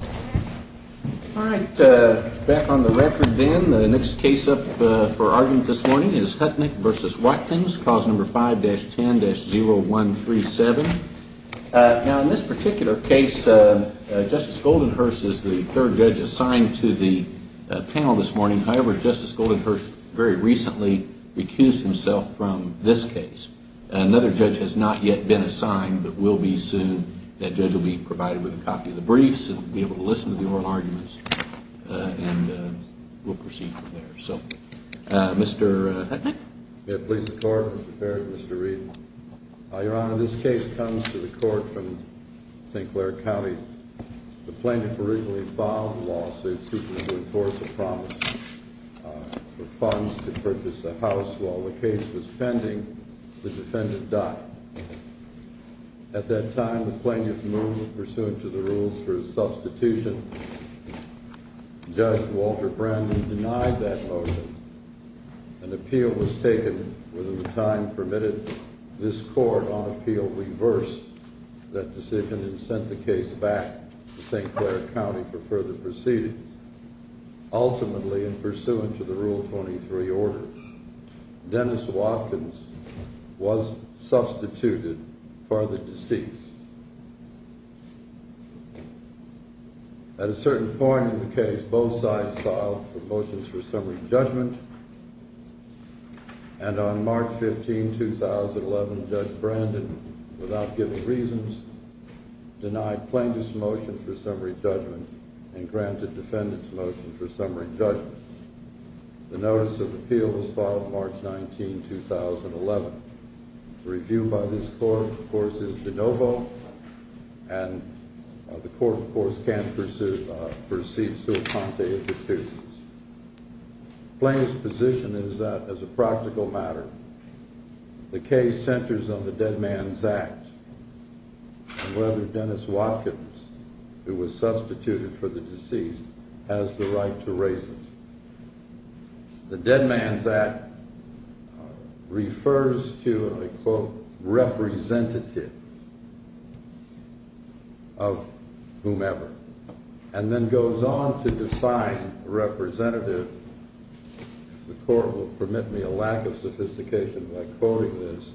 All right, back on the record then. The next case up for argument this morning is Hutnick v. Watkins, Clause 5-10-0137. Now in this particular case, Justice Goldenhurst is the third judge assigned to the panel this morning. However, Justice Goldenhurst very recently recused himself from this case. Another judge has not yet been assigned, but will be soon. That judge will be provided with a copy of the briefs and be able to listen to the oral arguments, and we'll proceed from there. So, Mr. Hutnick? May it please the Court, Mr. Barrett, Mr. Reed. Your Honor, this case comes to the Court from St. Clair County. The plaintiff originally filed a lawsuit seeking to enforce a promise for funds to purchase a house. While the case was pending, the defendant died. At that time, the plaintiff moved pursuant to the rules for his substitution. Judge Walter Brandon denied that motion. An appeal was taken within the time permitted. This Court, on appeal, reversed that decision and sent the case back to St. Clair County for further proceedings. Ultimately, in pursuant to the Rule 23 order, Dennis Watkins was substituted for the deceased. At a certain point in the case, both sides filed for motions for summary judgment. And on March 15, 2011, Judge Brandon, without giving reasons, denied plaintiff's motion for summary judgment and granted defendant's motion for summary judgment. The notice of appeal was filed March 19, 2011. The review by this Court, of course, is de novo, and the Court, of course, can't perceive sul ponte executions. The plaintiff's position is that, as a practical matter, the case centers on the Dead Man's Act and whether Dennis Watkins, who was substituted for the deceased, has the right to raise it. The Dead Man's Act refers to a, quote, representative of whomever, and then goes on to define representative. The Court will permit me a lack of sophistication by quoting this.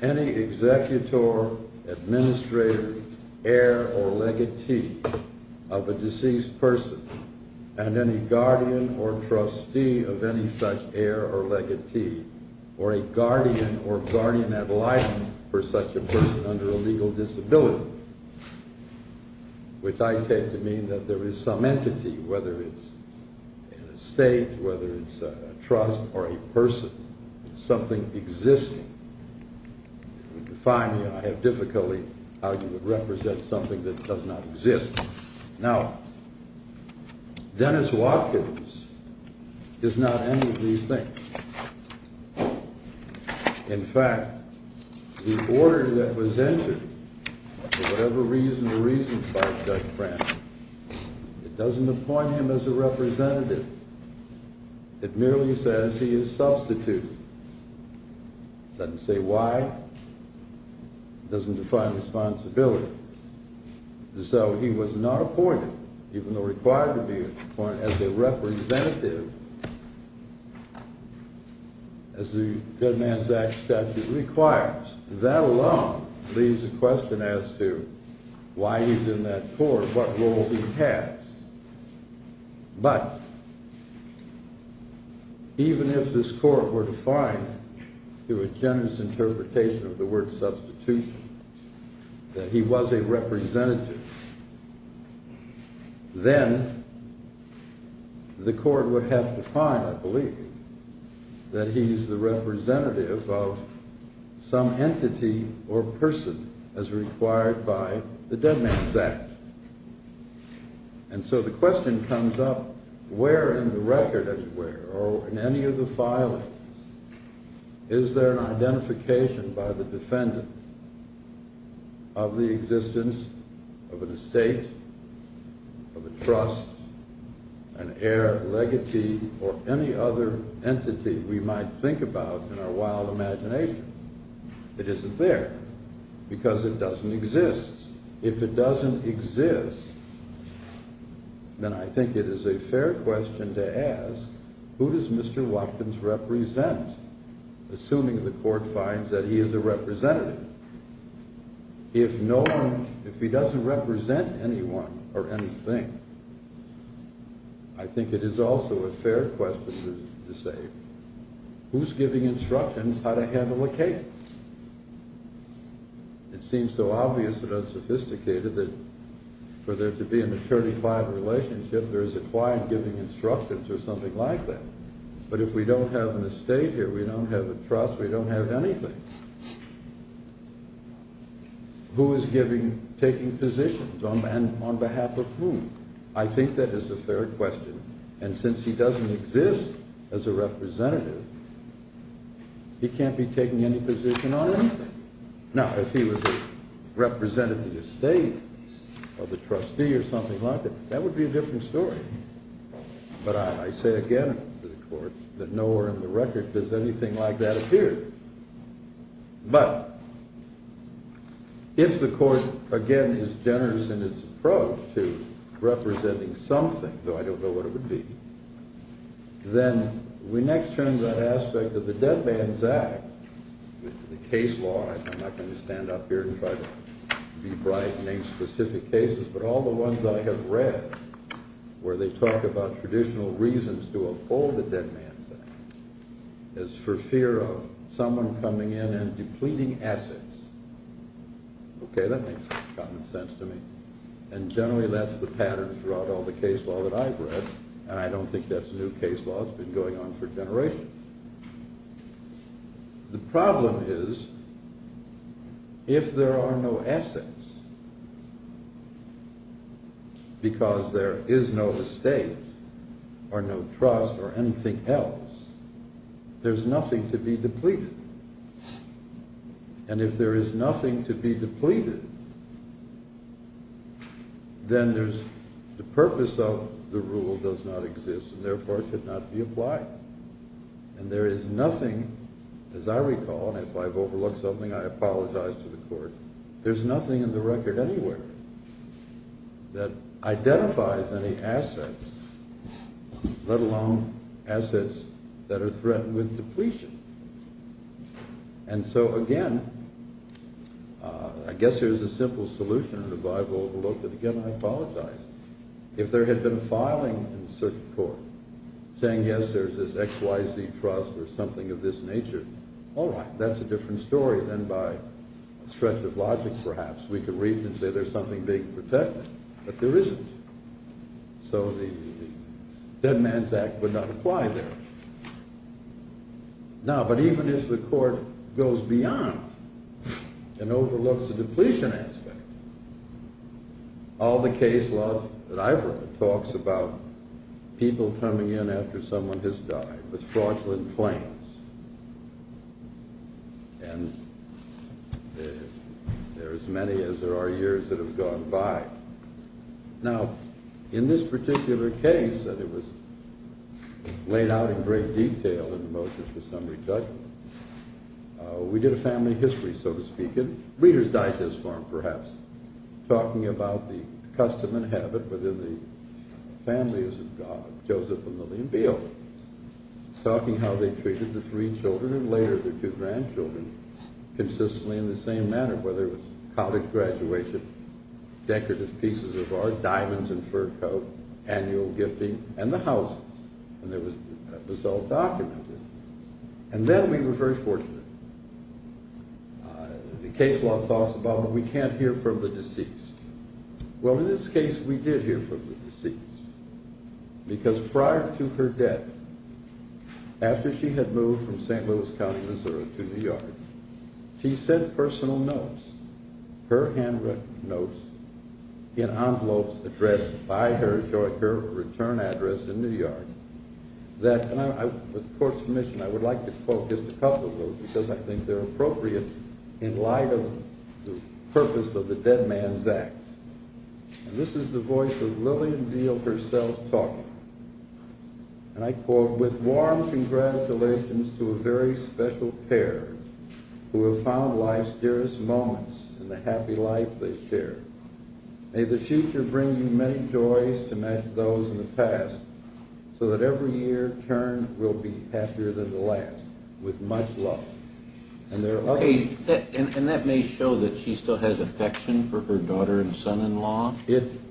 Any executor, administrator, heir, or legatee of a deceased person, and any guardian or trustee of any such heir or legatee, or a guardian or guardian ad litem for such a person under a legal disability, which I take to mean that there is some entity, whether it's in a state, whether it's a trust, or a person, something existing. It would define me, and I have difficulty how you would represent something that does not exist. Now, Dennis Watkins does not end with these things. In fact, the order that was entered, for whatever reason or reasons by Judge Frantz, it doesn't appoint him as a representative. It merely says he is substituted. It doesn't say why. It doesn't define responsibility. So he was not appointed, even though required to be appointed as a representative, as the Dead Man's Act statute requires. That alone leaves a question as to why he's in that court, what role he has. But even if this court were to find, through a generous interpretation of the word substitution, that he was a representative, then the court would have to find, I believe, that he's the representative of some entity or person as required by the Dead Man's Act. And so the question comes up, where in the record, as it were, or in any of the filings, is there an identification by the defendant of the existence of an estate, of a trust, an heir, legatee, or any other entity we might think about in our wild imagination? It isn't there, because it doesn't exist. If it doesn't exist, then I think it is a fair question to ask, who does Mr. Watkins represent? Assuming the court finds that he is a representative. If he doesn't represent anyone or anything, I think it is also a fair question to say, who's giving instructions how to handle a case? It seems so obvious and unsophisticated that for there to be a maturity-fied relationship, there is a client giving instructions or something like that. But if we don't have an estate here, we don't have a trust, we don't have anything. Who is taking positions and on behalf of whom? I think that is a fair question. And since he doesn't exist as a representative, he can't be taking any position on anything. Now, if he was a representative of the estate or the trustee or something like that, that would be a different story. But I say again to the court that nowhere in the record does anything like that appear. But if the court, again, is generous in its approach to representing something, though I don't know what it would be, then we next turn to that aspect of the Dead Man's Act, the case law, I'm not going to stand up here and try to be bright and name specific cases, but all the ones I have read where they talk about traditional reasons to uphold the Dead Man's Act, as for fear of someone coming in and depleting assets. Okay, that makes common sense to me. And generally that's the pattern throughout all the case law that I've read, and I don't think that's a new case law that's been going on for generations. The problem is, if there are no assets, because there is no estate or no trust or anything else, there's nothing to be depleted. And if there is nothing to be depleted, then the purpose of the rule does not exist, and therefore it should not be applied. And there is nothing, as I recall, and if I've overlooked something, I apologize to the court, there's nothing in the record anywhere that identifies any assets, let alone assets that are threatened with depletion. And so again, I guess there's a simple solution in the Bible, but again I apologize. If there had been a filing in a certain court, saying yes, there's this XYZ trust or something of this nature, all right, that's a different story than by a stretch of logic perhaps. We could read and say there's something being protected, but there isn't. So the Dead Man's Act would not apply there. Now, but even if the court goes beyond and overlooks the depletion aspect, all the case law that I've read talks about people coming in after someone has died with fraudulent claims. And there are as many as there are years that have gone by. Now, in this particular case, that it was laid out in great detail in the motions for summary judgment, we did a family history, so to speak, in reader's digest form perhaps, talking about the custom and habit within the families of Joseph and Lillian Beale, talking how they treated the three children and later the two grandchildren consistently in the same manner, whether it was college graduation, decorative pieces of art, diamonds and fur coat, annual gifting, and the houses. And that was all documented. And then we were very fortunate. The case law talks about we can't hear from the deceased. Well, in this case, we did hear from the deceased. Because prior to her death, after she had moved from St. Louis County, Missouri, to New York, she sent personal notes, her handwritten notes in envelopes addressed by her, her return address in New York, that, and with the court's permission, I would like to quote just a couple of those because I think they're appropriate in light of the purpose of the Dead Man's Act. And this is the voice of Lillian Beale herself talking.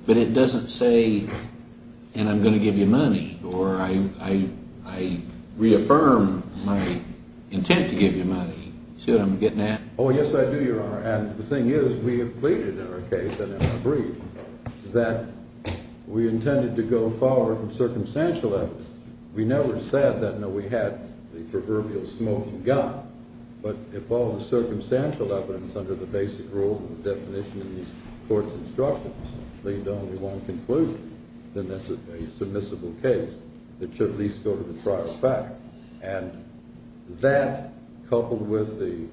But it doesn't say, and I'm going to give you money, or I reaffirm my intent to give you money. See what I'm getting at? Oh, yes, I do, Your Honor. And the thing is, we have pleaded in our case and in our brief that we intended to go forward with circumstantial evidence. We never said that, no, we had the proverbial smoking gun, but if all the circumstantial evidence under the basic rule of the definition in the court's instructions leaved only one conclusion, then that's a submissible case that should at least go to the prior fact. And that, coupled with the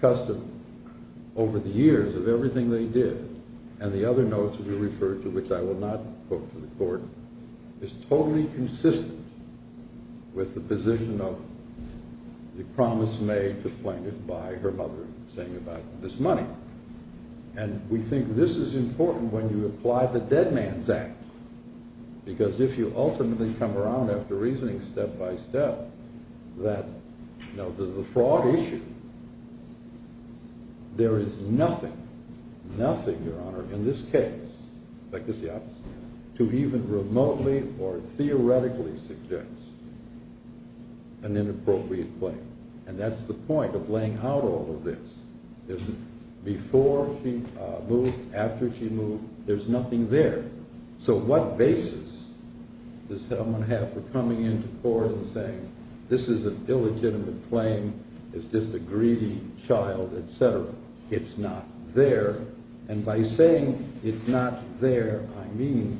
custom over the years of everything they did, and the other notes that you referred to, which I will not quote to the court, is totally consistent with the position of the promise made to Plaintiff by her mother in saying about this money. And we think this is important when you apply the Dead Man's Act, because if you ultimately come around after reasoning step by step that the fraud issue, there is nothing, nothing, Your Honor, in this case, like this, the opposite, to even remotely or theoretically suggest an inappropriate claim. And that's the point of laying out all of this. Before she moved, after she moved, there's nothing there. So what basis does someone have for coming into court and saying, this is an illegitimate claim, it's just a greedy child, et cetera. It's not there. And by saying it's not there, I mean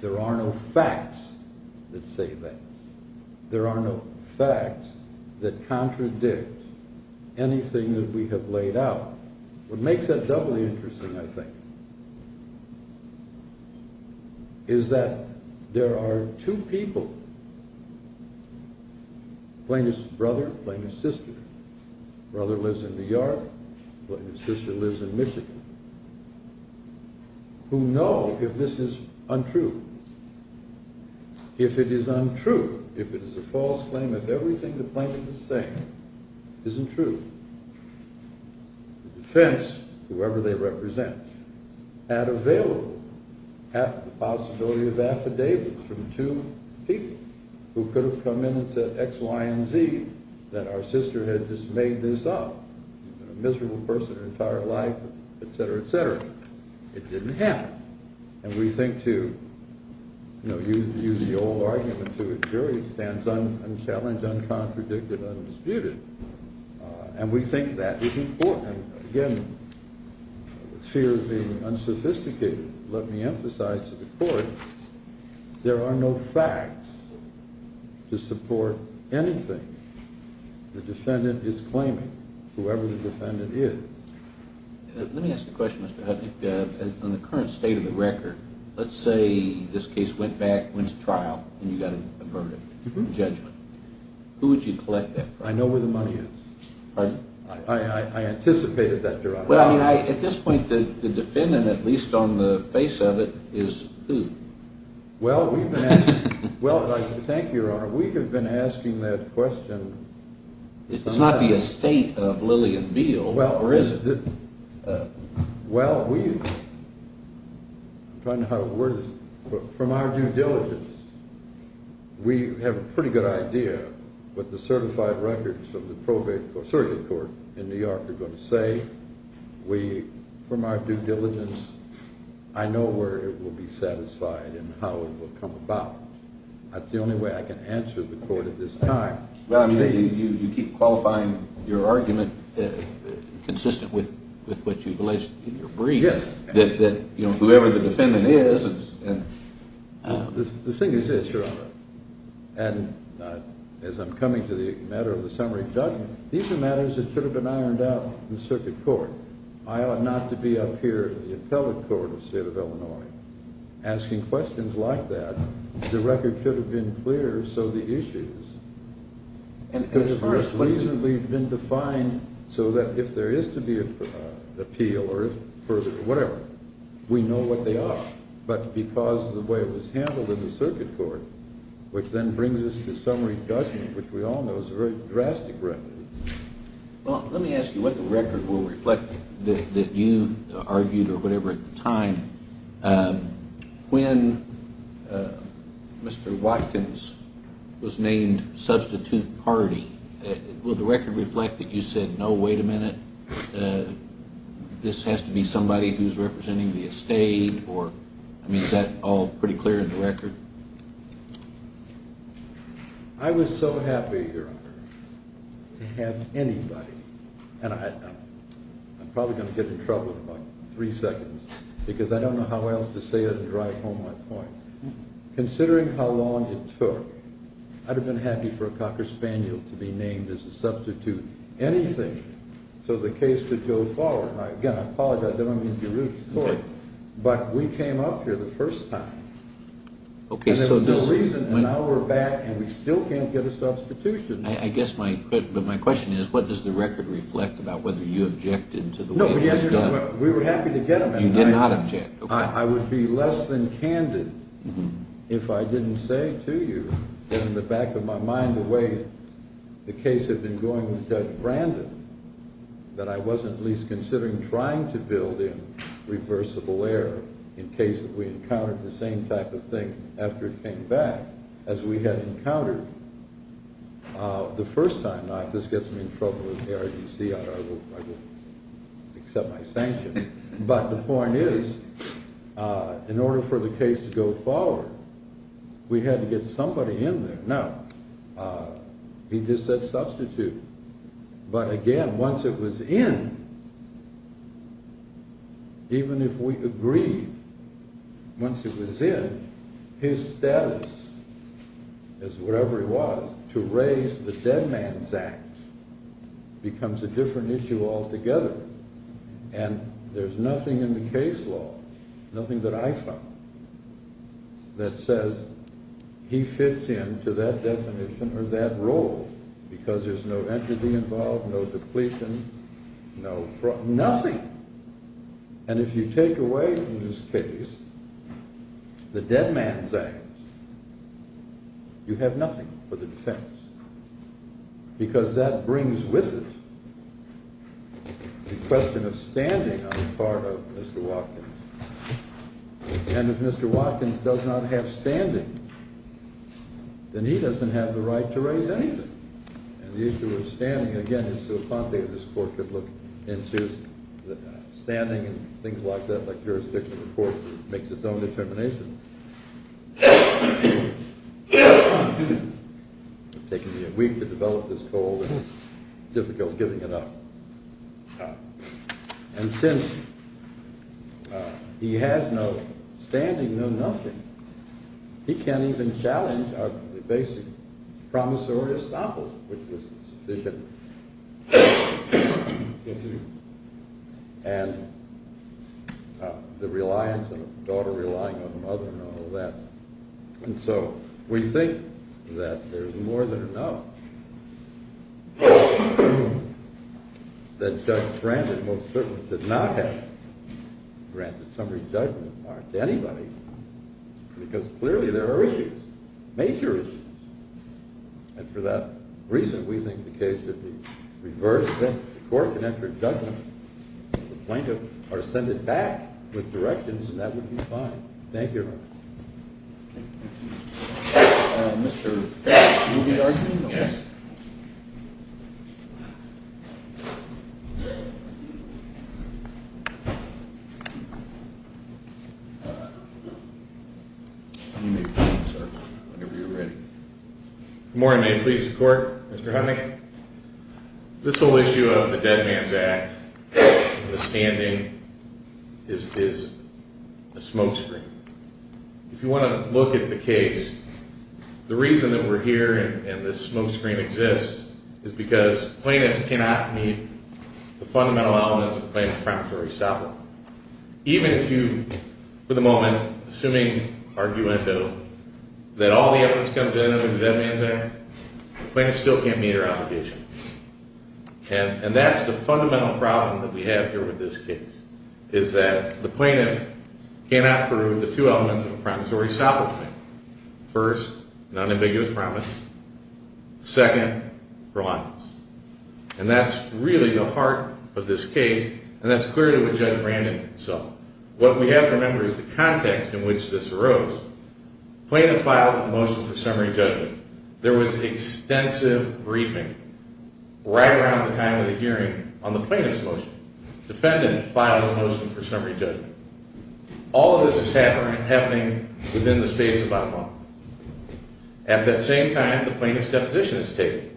there are no facts that say that. There are no facts that contradict anything that we have laid out. What makes that doubly interesting, I think, is that there are two people, Plaintiff's brother, Plaintiff's sister, brother lives in New York, Plaintiff's sister lives in Michigan, who know if this is untrue. If it is untrue, if it is a false claim, if everything the plaintiff is saying isn't true, the defense, whoever they represent, had available the possibility of affidavits from two people who could have come in and said X, Y, and Z, that our sister had just made this up, a miserable person her entire life, et cetera, et cetera. It didn't happen. And we think, to use the old argument to a jury, it stands unchallenged, uncontradicted, undisputed. And we think that is important. Again, with fear of being unsophisticated, let me emphasize to the court, there are no facts to support anything the defendant is claiming, whoever the defendant is. Let me ask a question, Mr. Hudnick. On the current state of the record, let's say this case went back, went to trial, and you got a verdict, a judgment. Who would you collect that from? I know where the money is. Pardon? I anticipated that, Your Honor. Well, I mean, at this point, the defendant, at least on the face of it, is who? Well, we've been asking, well, thank you, Your Honor, we have been asking that question. It's not the estate of Lillian Beal, or is it? Well, we, I'm trying to find how to word this, but from our due diligence, we have a pretty good idea what the certified records of the probate court, surrogate court, in New York are going to say. We, from our due diligence, I know where it will be satisfied and how it will come about. That's the only way I can answer the court at this time. Well, I mean, you keep qualifying your argument consistent with what you've alleged in your brief. Yes. That, you know, whoever the defendant is. The thing is this, Your Honor, and as I'm coming to the matter of the summary judgment, these are matters that should have been ironed out in circuit court. I ought not to be up here in the appellate court of the state of Illinois asking questions like that. The record should have been clear, so the issues could have reasonably been defined, so that if there is to be an appeal or further, whatever, we know what they are. But because of the way it was handled in the circuit court, which then brings us to summary judgment, which we all know is a very drastic record. Well, let me ask you what the record will reflect that you argued or whatever at the time. When Mr. Watkins was named substitute party, will the record reflect that you said, no, wait a minute, this has to be somebody who's representing the estate, or, I mean, is that all pretty clear in the record? I was so happy, Your Honor, to have anybody, and I'm probably going to get in trouble in about three seconds, because I don't know how else to say it and drive home my point. Considering how long it took, I'd have been happy for a cocker spaniel to be named as a substitute anything so the case could go forward. Now, again, I apologize. But we came up here the first time. And there's no reason, and now we're back, and we still can't get a substitution. But my question is, what does the record reflect about whether you objected to the way it was done? We were happy to get them. You did not object. I would be less than candid if I didn't say to you that in the back of my mind, the case had been going with Judge Brandon, that I wasn't at least considering trying to build in reversible error in case we encountered the same type of thing after it came back as we had encountered the first time. Now, if this gets me in trouble with the ARDC, I will accept my sanction. But the point is, in order for the case to go forward, we had to get somebody in there. Now, he just said substitute. But, again, once it was in, even if we agreed, once it was in, his status as whatever he was to raise the Dead Man's Act becomes a different issue altogether. And there's nothing in the case law, nothing that I found, that says he fits in to that definition or that role because there's no entity involved, no depletion, no fraud, nothing. And if you take away from this case the Dead Man's Act, you have nothing for the defense because that brings with it the question of standing on the part of Mr. Watkins. And if Mr. Watkins does not have standing, then he doesn't have the right to raise anything. And the issue of standing, again, is so complicated, this court could look into standing and things like that, like jurisdictional courts, it makes its own determination. It's taken me a week to develop this goal and it's difficult giving it up. And since he has no standing, no nothing, he can't even challenge our basic promissory estoppel, which is sufficient. And the reliance on a daughter, relying on a mother and all of that. And so we think that there's more than enough that Judge Brandon most certainly did not have. Brandon's summary judgments aren't to anybody because clearly there are issues, major issues. And for that reason, we think the case should be reversed. The court can enter judgment. The plaintiff are sent back with directions and that would be fine. Thank you. Thank you. Good morning. May it please the court. Mr. Huntley. This whole issue of the Dead Man's Act and the standing is a smokescreen. If you want to look at the case, the reason that we're here and this smokescreen exists is because plaintiffs cannot meet the fundamental elements of the plaintiff's promissory estoppel. Even if you, for the moment, assuming argument that all the evidence comes in under the Dead Man's Act, the plaintiff still can't meet her obligation. And that's the fundamental problem that we have here with this case, is that the plaintiff cannot prove the two elements of the promissory estoppel claim. First, non-ambiguous promise. Second, reliance. And that's really the heart of this case and that's clearly what Judge Brandon saw. What we have to remember is the context in which this arose. Plaintiff filed a motion for summary judgment. There was extensive briefing right around the time of the hearing on the plaintiff's motion. Defendant filed a motion for summary judgment. All of this is happening within the space of about a month. At that same time, the plaintiff's deposition is taken.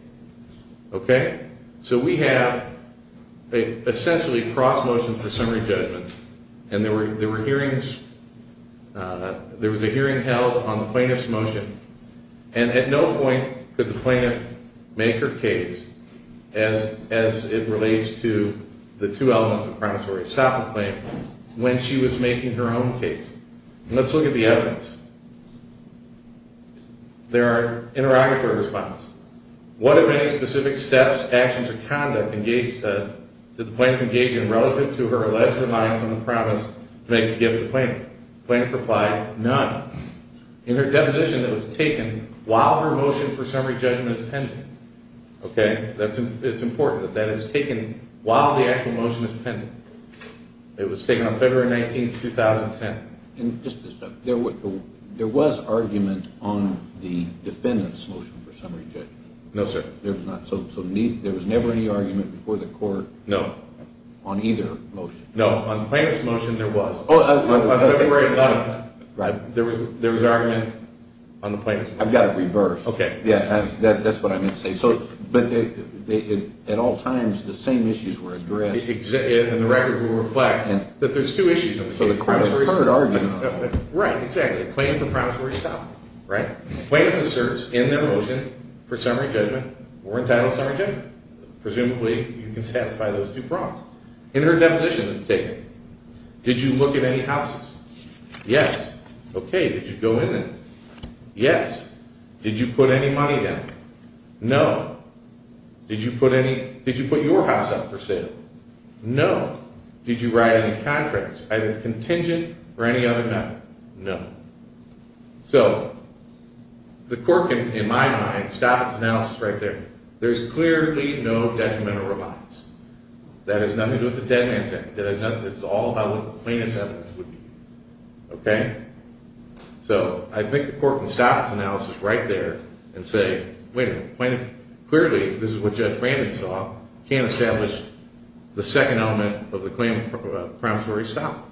Okay? So we have, essentially, cross-motion for summary judgment. And there were hearings. There was a hearing held on the plaintiff's motion. And at no point could the plaintiff make her case as it relates to the two elements of the promissory estoppel claim when she was making her own case. Let's look at the evidence. There are interrogatory responses. What, if any, specific steps, actions, or conduct did the plaintiff engage in relative to her alleged reliance on the promise to make a gift to the plaintiff? The plaintiff replied, none. In her deposition, it was taken while her motion for summary judgment is pending. Okay? It's important that that is taken while the actual motion is pending. It was taken on February 19, 2010. There was argument on the defendant's motion for summary judgment. No, sir. There was never any argument before the court on either motion. No. On the plaintiff's motion, there was. On February 9, there was argument on the plaintiff's motion. I've got it reversed. Okay. That's what I meant to say. But at all times, the same issues were addressed. And the record will reflect that there's two issues. So the court heard argument. Right. Exactly. The plaintiff and the promissory stop. Right? The plaintiff asserts in their motion for summary judgment, we're entitled to summary judgment. Presumably, you can satisfy those two prompts. In her deposition, it's taken. Did you look at any houses? Yes. Okay. Did you go in there? Yes. Did you put any money down? No. Did you put your house up for sale? No. Did you write any contracts, either contingent or any other method? No. So the court can, in my mind, stop its analysis right there. There's clearly no detrimental remarks. That has nothing to do with the Dead Man's Act. It's all about what the plaintiff's evidence would be. Okay. So I think the court can stop its analysis right there and say, Wait a minute. Clearly, this is what Judge Brandon saw. Can't establish the second element of the promissory stop.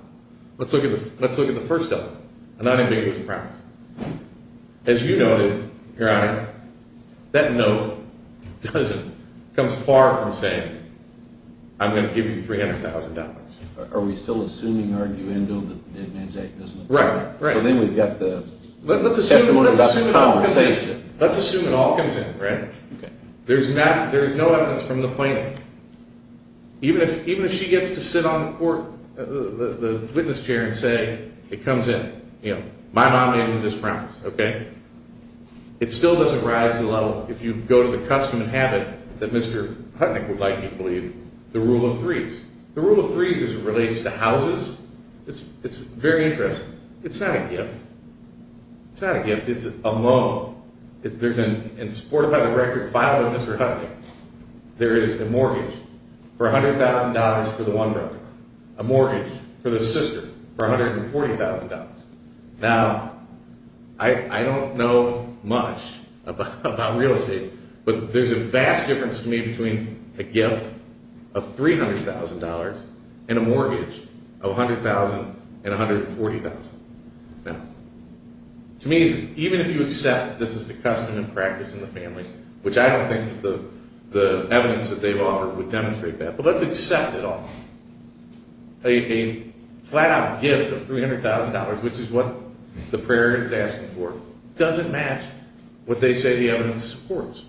Let's look at the first element. I'm not ambiguous about it. As you noted, Your Honor, that note comes far from saying, I'm going to give you $300,000. Are we still assuming arguendo that the Dead Man's Act doesn't apply? Right. So then we've got the testimony that's out of conversation. Let's assume it all comes in, right? Okay. There's no evidence from the plaintiff. Even if she gets to sit on the witness chair and say, It comes in. My mom made me this promise. Okay? It still doesn't rise to the level, if you go to the custom and habit that Mr. Hutnick would like you to believe, the rule of threes. The rule of threes relates to houses. It's very interesting. It's not a gift. It's not a gift. It's a loan. In support of the record filed by Mr. Hutnick, there is a mortgage for $100,000 for the one brother, a mortgage for the sister for $140,000. Now, I don't know much about real estate, but there's a vast difference to me between a gift of $300,000 and a mortgage of $100,000 and $140,000. Now, to me, even if you accept that this is the custom and practice in the family, which I don't think the evidence that they've offered would demonstrate that, but let's accept it all. A flat-out gift of $300,000, which is what the prayer is asking for, doesn't match what they say the evidence supports.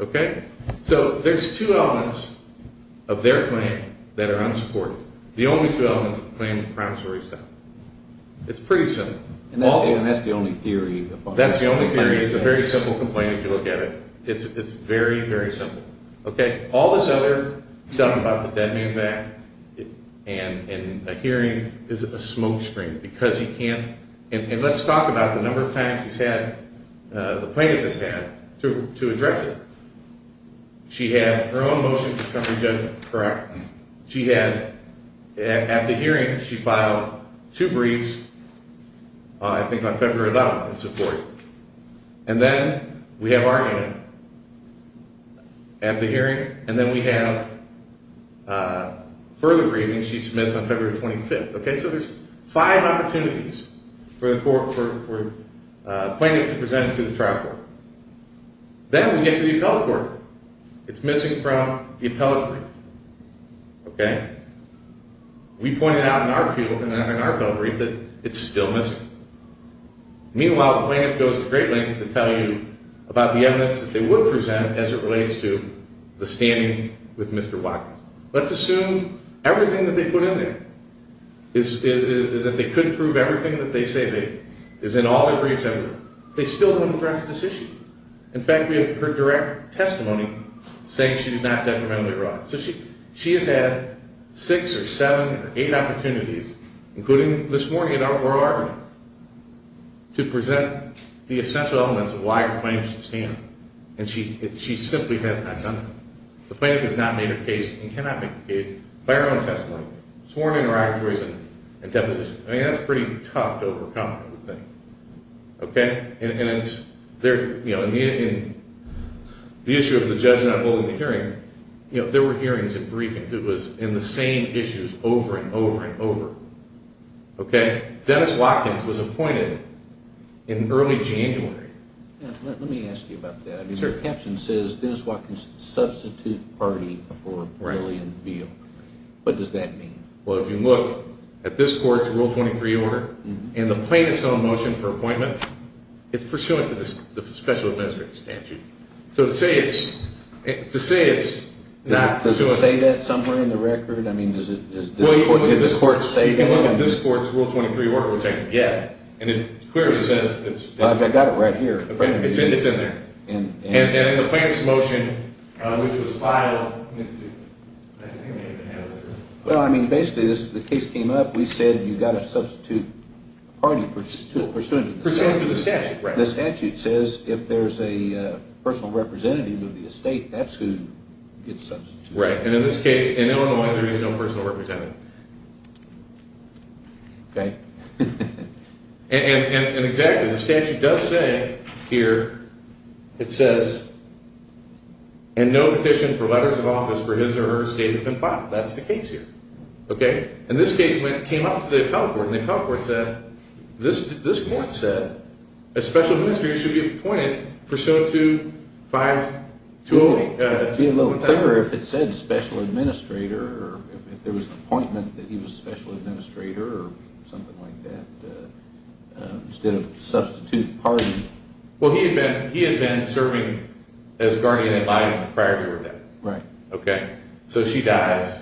Okay? So there's two elements of their claim that are unsupported. The only two elements of the claim are the promissory stuff. It's pretty simple. And that's the only theory. That's the only theory. It's a very simple complaint if you look at it. It's very, very simple. Okay? All this other stuff about the Dead Man's Act and a hearing is a smokestream because he can't – and let's talk about the number of times he's had – the plaintiff has had to address it. She had her own motion for Trump re-judgment, correct? She had – at the hearing, she filed two briefs, I think on February 11th, in support. And then we have our hearing. At the hearing, and then we have further briefings she submits on February 25th. Okay? So there's five opportunities for the court – for the plaintiff to present to the trial court. Then we get to the appellate court. It's missing from the appellate brief. Okay? We pointed out in our appeal – in our appellate brief that it's still missing. Meanwhile, the plaintiff goes to great lengths to tell you about the evidence that they would present as it relates to the standing with Mr. Watkins. Let's assume everything that they put in there is – that they couldn't prove everything that they say they – is in all their briefs ever. They still haven't addressed this issue. In fact, we have her direct testimony saying she did not detrimentally arrive. So she has had six or seven or eight opportunities, including this morning at our oral argument, to present the essential elements of why her claim should stand. And she simply has not done that. The plaintiff has not made her case and cannot make her case by her own testimony. Sworn interrogatories and deposition. I mean, that's pretty tough to overcome, I would think. Okay? And it's – there – you know, in the issue of the judge not holding the hearing, you know, there were hearings and briefings. It was in the same issues over and over and over. Okay? Dennis Watkins was appointed in early January. Let me ask you about that. I mean, your caption says, Dennis Watkins, substitute party for civilian appeal. What does that mean? Well, if you look at this court's Rule 23 order, and the plaintiff's own motion for appointment, it's pursuant to the special administrative statute. So to say it's – to say it's not – Does it say that somewhere in the record? I mean, is it – did the court say that? Well, if you look at this court's Rule 23 order, yeah. And it clearly says it's – I've got it right here. It's in there. And the plaintiff's motion, which was filed – Well, I mean, basically the case came up. We said you've got to substitute party pursuant to the statute. Pursuant to the statute, right. The statute says if there's a personal representative of the estate, that's who gets substituted. Right, and in this case, in Illinois, there is no personal representative. Okay. And exactly, the statute does say here, it says, and no petition for letters of office for his or her estate have been filed. That's the case here. Okay. And this case came up to the appellate court, and the appellate court said, this court said a special administrator should be appointed pursuant to 520. It would be a little clearer if it said special administrator, or if there was an appointment that he was special administrator, or something like that, instead of substitute party. Well, he had been serving as guardian in life prior to her death. Right. Okay. So she dies,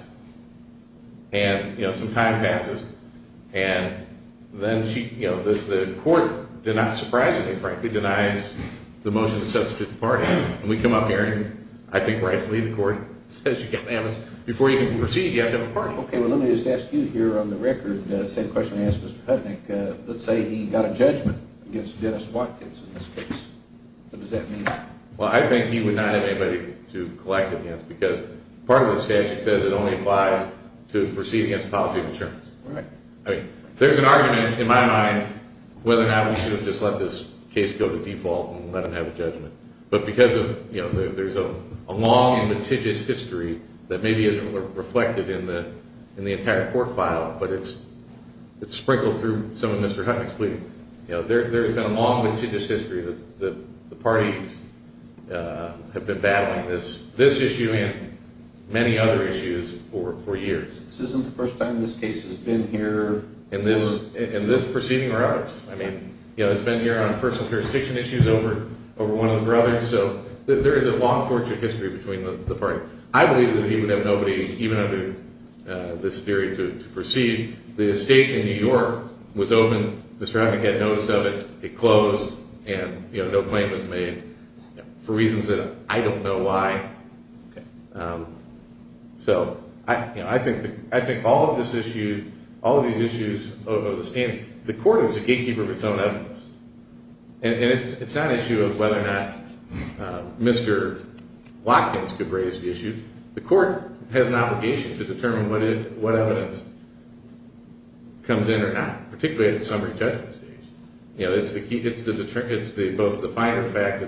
and, you know, some time passes, and then she, you know, the court did not surprise me, frankly, denies the motion to substitute the party. And we come up here, and I think rightfully the court says, you've got to have a – before you can proceed, you have to have a party. Okay, well, let me just ask you here on the record the same question I asked Mr. Hudnick. Let's say he got a judgment against Dennis Watkins in this case. What does that mean? Well, I think he would not have anybody to collect it against, because part of the statute says it only applies to proceeding as a policy of insurance. Right. I mean, there's an argument in my mind whether or not we should have just let this case go to default and let him have a judgment. But because of, you know, there's a long and meticulous history that maybe isn't reflected in the entire court file, but it's sprinkled through some of Mr. Hudnick's plea. You know, there's been a long, litigious history that the parties have been battling this issue and many other issues for years. This isn't the first time this case has been here. In this proceeding or others. I mean, you know, it's been here on personal jurisdiction issues over one of the brothers. So there is a long, tortuous history between the parties. I believe that he would have nobody, even under this theory, to proceed. The estate in New York was open. Mr. Hudnick had notice of it. It closed. And, you know, no claim was made for reasons that I don't know why. So, you know, I think all of this issue, all of these issues, the court is a gatekeeper of its own evidence. And it's not an issue of whether or not Mr. Watkins could raise the issue. The court has an obligation to determine what evidence comes in or not, particularly at the summary judgment stage. You know, it's both the finer fact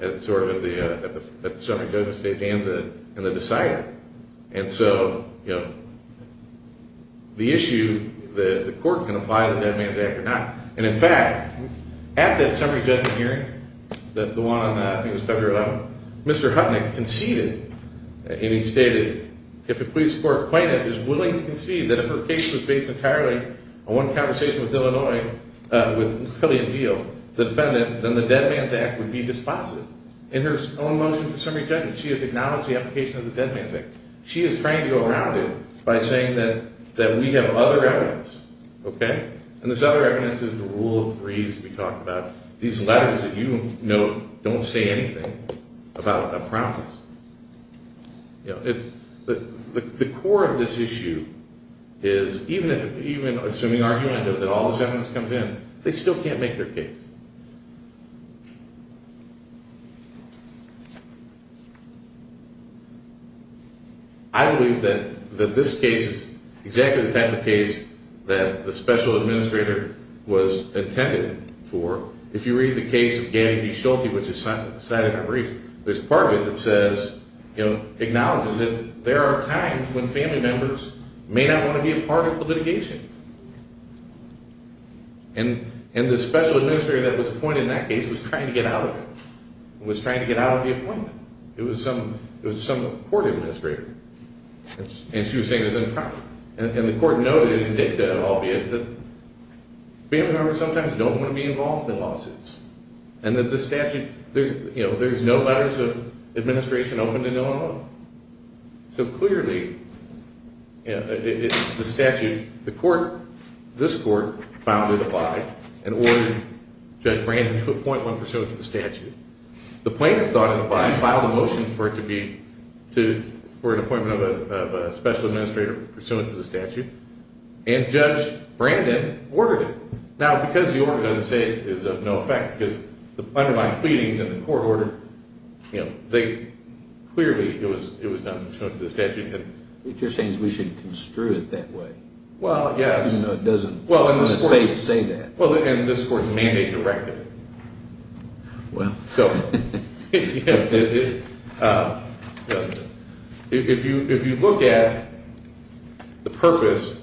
at the summary judgment stage and the decider. And so, you know, the issue, the court can apply the Dead Man's Act or not. And, in fact, at that summary judgment hearing, the one on, I think it was February 11th, Mr. Hudnick conceded, and he stated, if a police court plaintiff is willing to concede that if her case was based entirely on one conversation with Illinois, with Lillian Beal, the defendant, then the Dead Man's Act would be dispositive. In her own motion for summary judgment, she has acknowledged the application of the Dead Man's Act. She is trying to go around it by saying that we have other evidence, okay? And this other evidence is the rule of threes that we talked about. These letters that you note don't say anything about a promise. You know, the core of this issue is, even assuming argument that all this evidence comes in, they still can't make their case. I believe that this case is exactly the type of case that the special administrator was intended for. If you read the case of Gabby D. Schulte, which is cited in our brief, there's part of it that says, you know, acknowledges that there are times when family members may not want to be a part of the litigation. And the special administrator that was appointed in that case was trying to get out of it. Was trying to get out of the appointment. It was some court administrator. And she was saying it was improper. And the court noted in dicta, albeit, that family members sometimes don't want to be involved in lawsuits. And that the statute, you know, there's no letters of administration open to Illinois. So clearly, you know, the statute, the court, this court, filed a divide and ordered Judge Brandon to appoint one pursuant to the statute. The plaintiff filed a motion for it to be, for an appointment of a special administrator pursuant to the statute. And Judge Brandon ordered it. Now, because the order doesn't say it is of no effect, because the underlying pleadings in the court order, you know, they clearly, it was not shown to the statute. What you're saying is we shouldn't construe it that way. Well, yes. You know, it doesn't, in this case, say that. Well, and this court's mandate directed it. Well. If you look at the purpose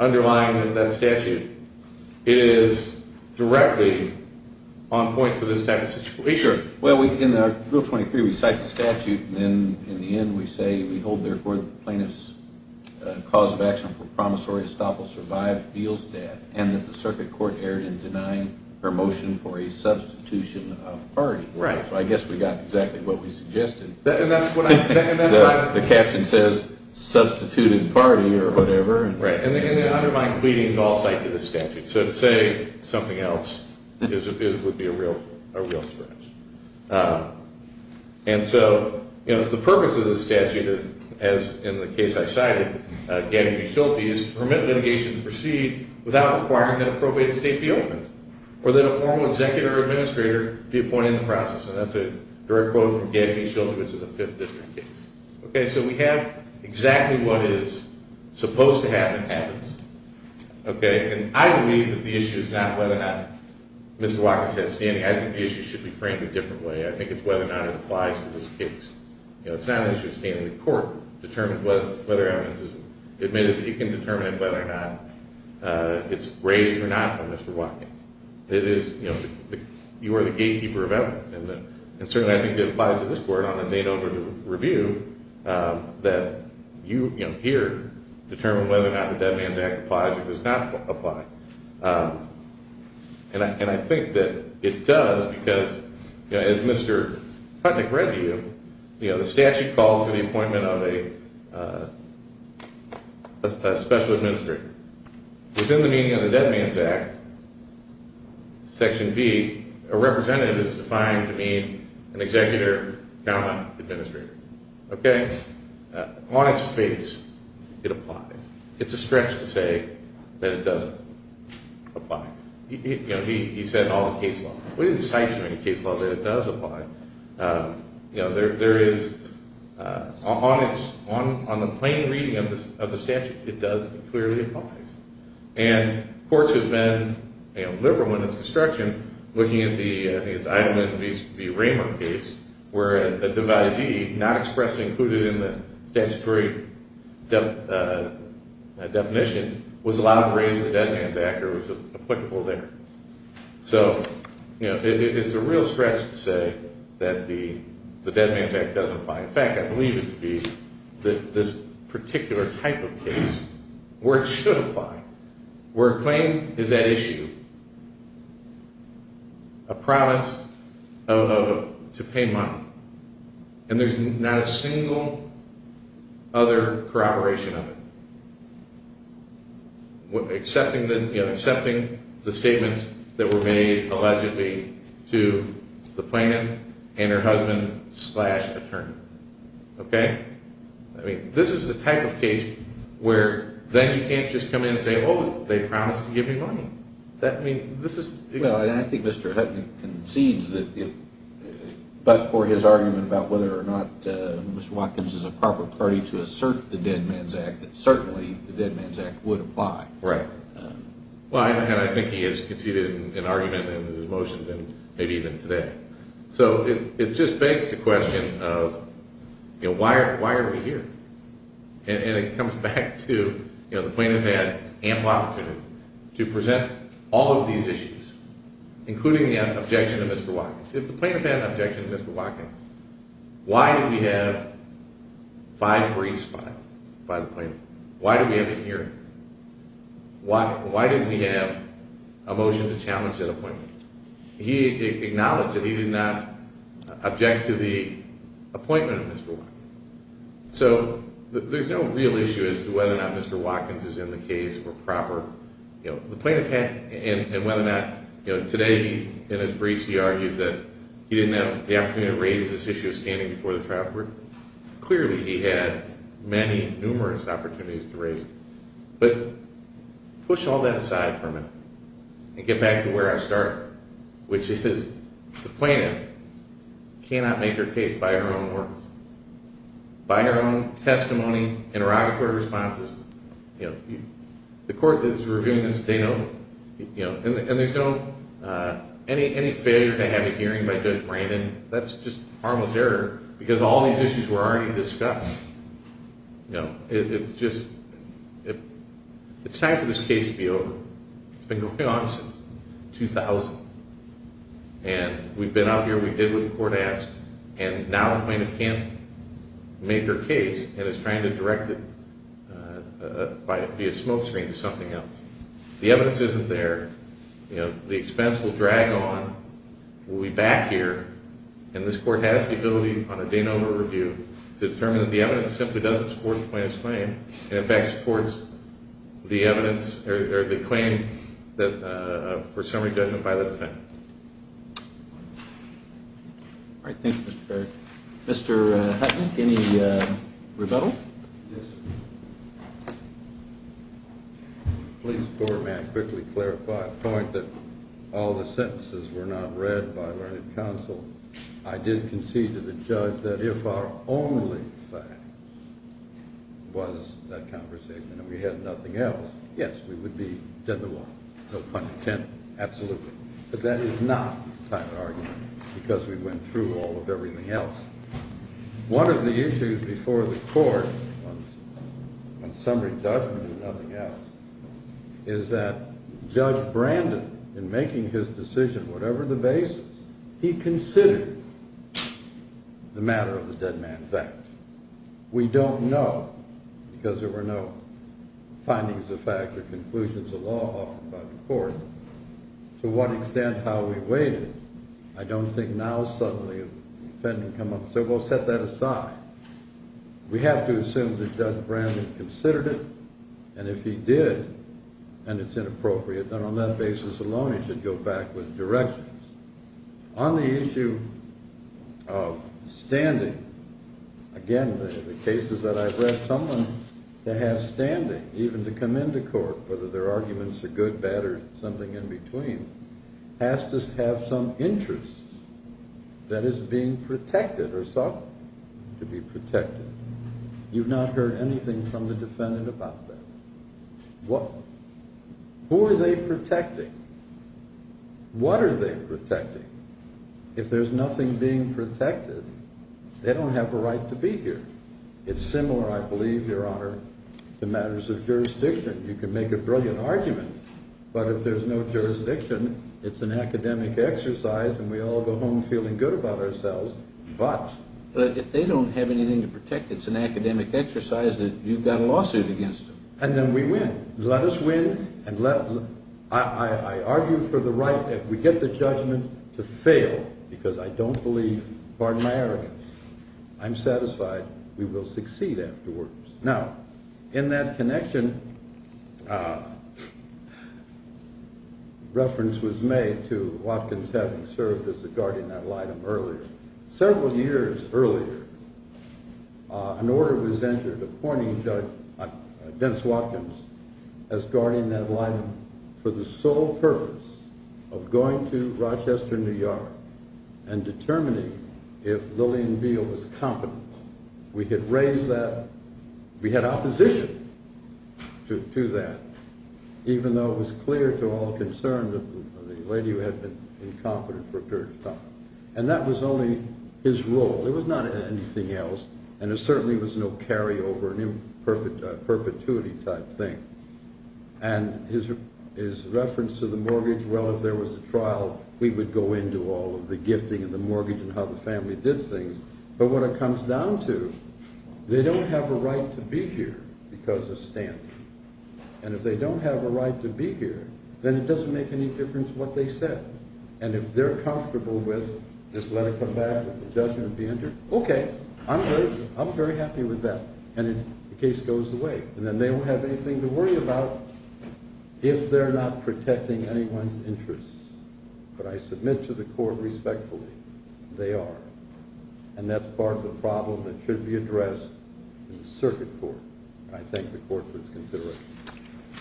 underlying that statute, it is directly on point for this type of situation. Well, in Rule 23, we cite the statute, and then in the end, we say we hold, therefore, that the plaintiff's cause of action for promissory estoppel survived Beal's death, and that the circuit court erred in denying her motion for a substitution of party. Right. So I guess we got exactly what we suggested. And that's what I, and that's why. The caption says substituted party or whatever. Right. And the underlying pleadings all cite to the statute. So to say something else would be a real stretch. And so, you know, the purpose of this statute, as in the case I cited, Gabby B. Schulte, is to permit litigation to proceed without requiring that a probate state be open or that a formal executive or administrator be appointed in the process. And that's a direct quote from Gabby B. Schulte, which is a Fifth District case. Okay. So we have exactly what is supposed to happen happens. Okay. And I believe that the issue is not whether or not Mr. Watkins had standing. I think the issue should be framed a different way. I think it's whether or not it applies to this case. You know, it's not an issue of standing. The court determines whether evidence is admitted. It can determine whether or not it's raised or not by Mr. Watkins. It is, you know, you are the gatekeeper of evidence. And certainly I think it applies to this court on a date over to review that you, you know, here determine whether or not the Dead Man's Act applies or does not apply. And I think that it does because, you know, as Mr. Putnick read to you, you know, the statute calls for the appointment of a special administrator. Within the meaning of the Dead Man's Act, Section B, a representative is defined to mean an executive, comma, administrator. Okay. On its face, it applies. It's a stretch to say that it doesn't apply. You know, he said in all the case law. We didn't cite you in any case law that it does apply. You know, there is, on its, on the plain reading of the statute, it does clearly apply. And courts have been, you know, liberal in its construction, looking at the, I think it's Eidelman v. Raymer case, where a devisee not expressed included in the statutory definition was allowed to raise the Dead Man's Act or was applicable there. So, you know, it's a real stretch to say that the Dead Man's Act doesn't apply. In fact, I believe it to be this particular type of case where it should apply, where a claim is at issue, a promise of, to pay money, and there's not a single other corroboration of it, excepting the, you know, excepting the statements that were made allegedly to the plaintiff and her husband, slash, attorney. Okay. I mean, this is the type of case where then you can't just come in and say, oh, they promised to give me money. That, I mean, this is... Well, and I think Mr. Hutton concedes that if, but for his argument about whether or not Mr. Watkins is a proper party to assert the Dead Man's Act, that certainly the Dead Man's Act would apply. Right. Well, and I think he has conceded an argument in his motions and maybe even today. So it just begs the question of, you know, why are we here? And it comes back to, you know, the plaintiff had ample opportunity to present all of these issues, including the objection to Mr. Watkins. If the plaintiff had an objection to Mr. Watkins, why did we have five briefs filed by the plaintiff? Why did we have a hearing? Why didn't we have a motion to challenge that appointment? He acknowledged that he did not object to the appointment of Mr. Watkins. So there's no real issue as to whether or not Mr. Watkins is in the case or proper. You know, the plaintiff had, and whether or not, you know, today in his briefs he argues that he didn't have the opportunity to raise this issue of standing before the trial court. Clearly he had many numerous opportunities to raise it. But push all that aside for a minute and get back to where I start, which is the plaintiff cannot make her case by her own words, by her own testimony, interrogatory responses. You know, the court is reviewing this. They don't, you know, and there's no, any failure to have a hearing by Judge Brandon, that's just harmless error because all these issues were already discussed. You know, it's just, it's time for this case to be over. It's been going on since 2000. And we've been out here, we did what the court asked, and now the plaintiff can't make her case and is trying to direct it via smoke screen to something else. The evidence isn't there. You know, the expense will drag on, we'll be back here, and this court has the ability on a day and hour review to determine that the evidence simply doesn't support the plaintiff's claim and in fact supports the evidence or the claim for summary judgment by the defendant. All right, thank you, Mr. Fair. Mr. Hutnick, any rebuttal? Yes. Please, Governor, may I quickly clarify a point that all the sentences were not read by learned counsel. I did concede to the judge that if our only fact was that conversation and we had nothing else, yes, we would be dead in the water. No pun intended, absolutely. But that is not the type of argument because we went through all of everything else. One of the issues before the court on summary judgment and nothing else is that Judge Brandon, in making his decision, whatever the basis, he considered the matter of the Dead Man's Act. We don't know because there were no findings of fact or conclusions of law offered by the court to what extent how we weighed it. I don't think now suddenly a defendant would come up and say, well, set that aside. We have to assume that Judge Brandon considered it, and if he did and it's inappropriate, then on that basis alone he should go back with directions. On the issue of standing, again, the cases that I've read, someone that has standing, even to come into court, whether their arguments are good, bad, or something in between, has to have some interest that is being protected or sought to be protected. You've not heard anything from the defendant about that. Who are they protecting? What are they protecting? If there's nothing being protected, they don't have a right to be here. It's similar, I believe, Your Honor, to matters of jurisdiction. You can make a brilliant argument, but if there's no jurisdiction, it's an academic exercise and we all go home feeling good about ourselves. But if they don't have anything to protect, it's an academic exercise, then you've got a lawsuit against them. And then we win. Let us win. I argue for the right, if we get the judgment, to fail, because I don't believe, pardon my arrogance, I'm satisfied we will succeed afterwards. Now, in that connection, a reference was made to Watkins having served as a guardian ad litem earlier. Several years earlier, an order was entered appointing Judge Dennis Watkins as guardian ad litem for the sole purpose of going to Rochester, New York, and determining if Lillian Beal was competent. We had raised that. We had opposition to that, even though it was clear to all concerned that the lady who had been incompetent prepared to talk. And that was only his role. It was not anything else. And there certainly was no carryover, no perpetuity type thing. And his reference to the mortgage, well, if there was a trial, we would go into all of the gifting and the mortgage and how the family did things. But what it comes down to, they don't have a right to be here because of standing. And if they don't have a right to be here, then it doesn't make any difference what they said. And if they're comfortable with just let it come back if it doesn't be entered, okay, I'm very happy with that. And the case goes away. And then they don't have anything to worry about if they're not protecting anyone's interests. But I submit to the court respectfully, they are. And that's part of the problem that should be addressed in the circuit court. And I thank the court for its consideration.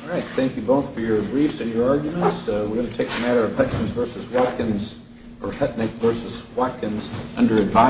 All right. Thank you both for your briefs and your arguments. So we're going to take the matter of Hutkins v. Watkins or Hutnick v. Watkins under advisory.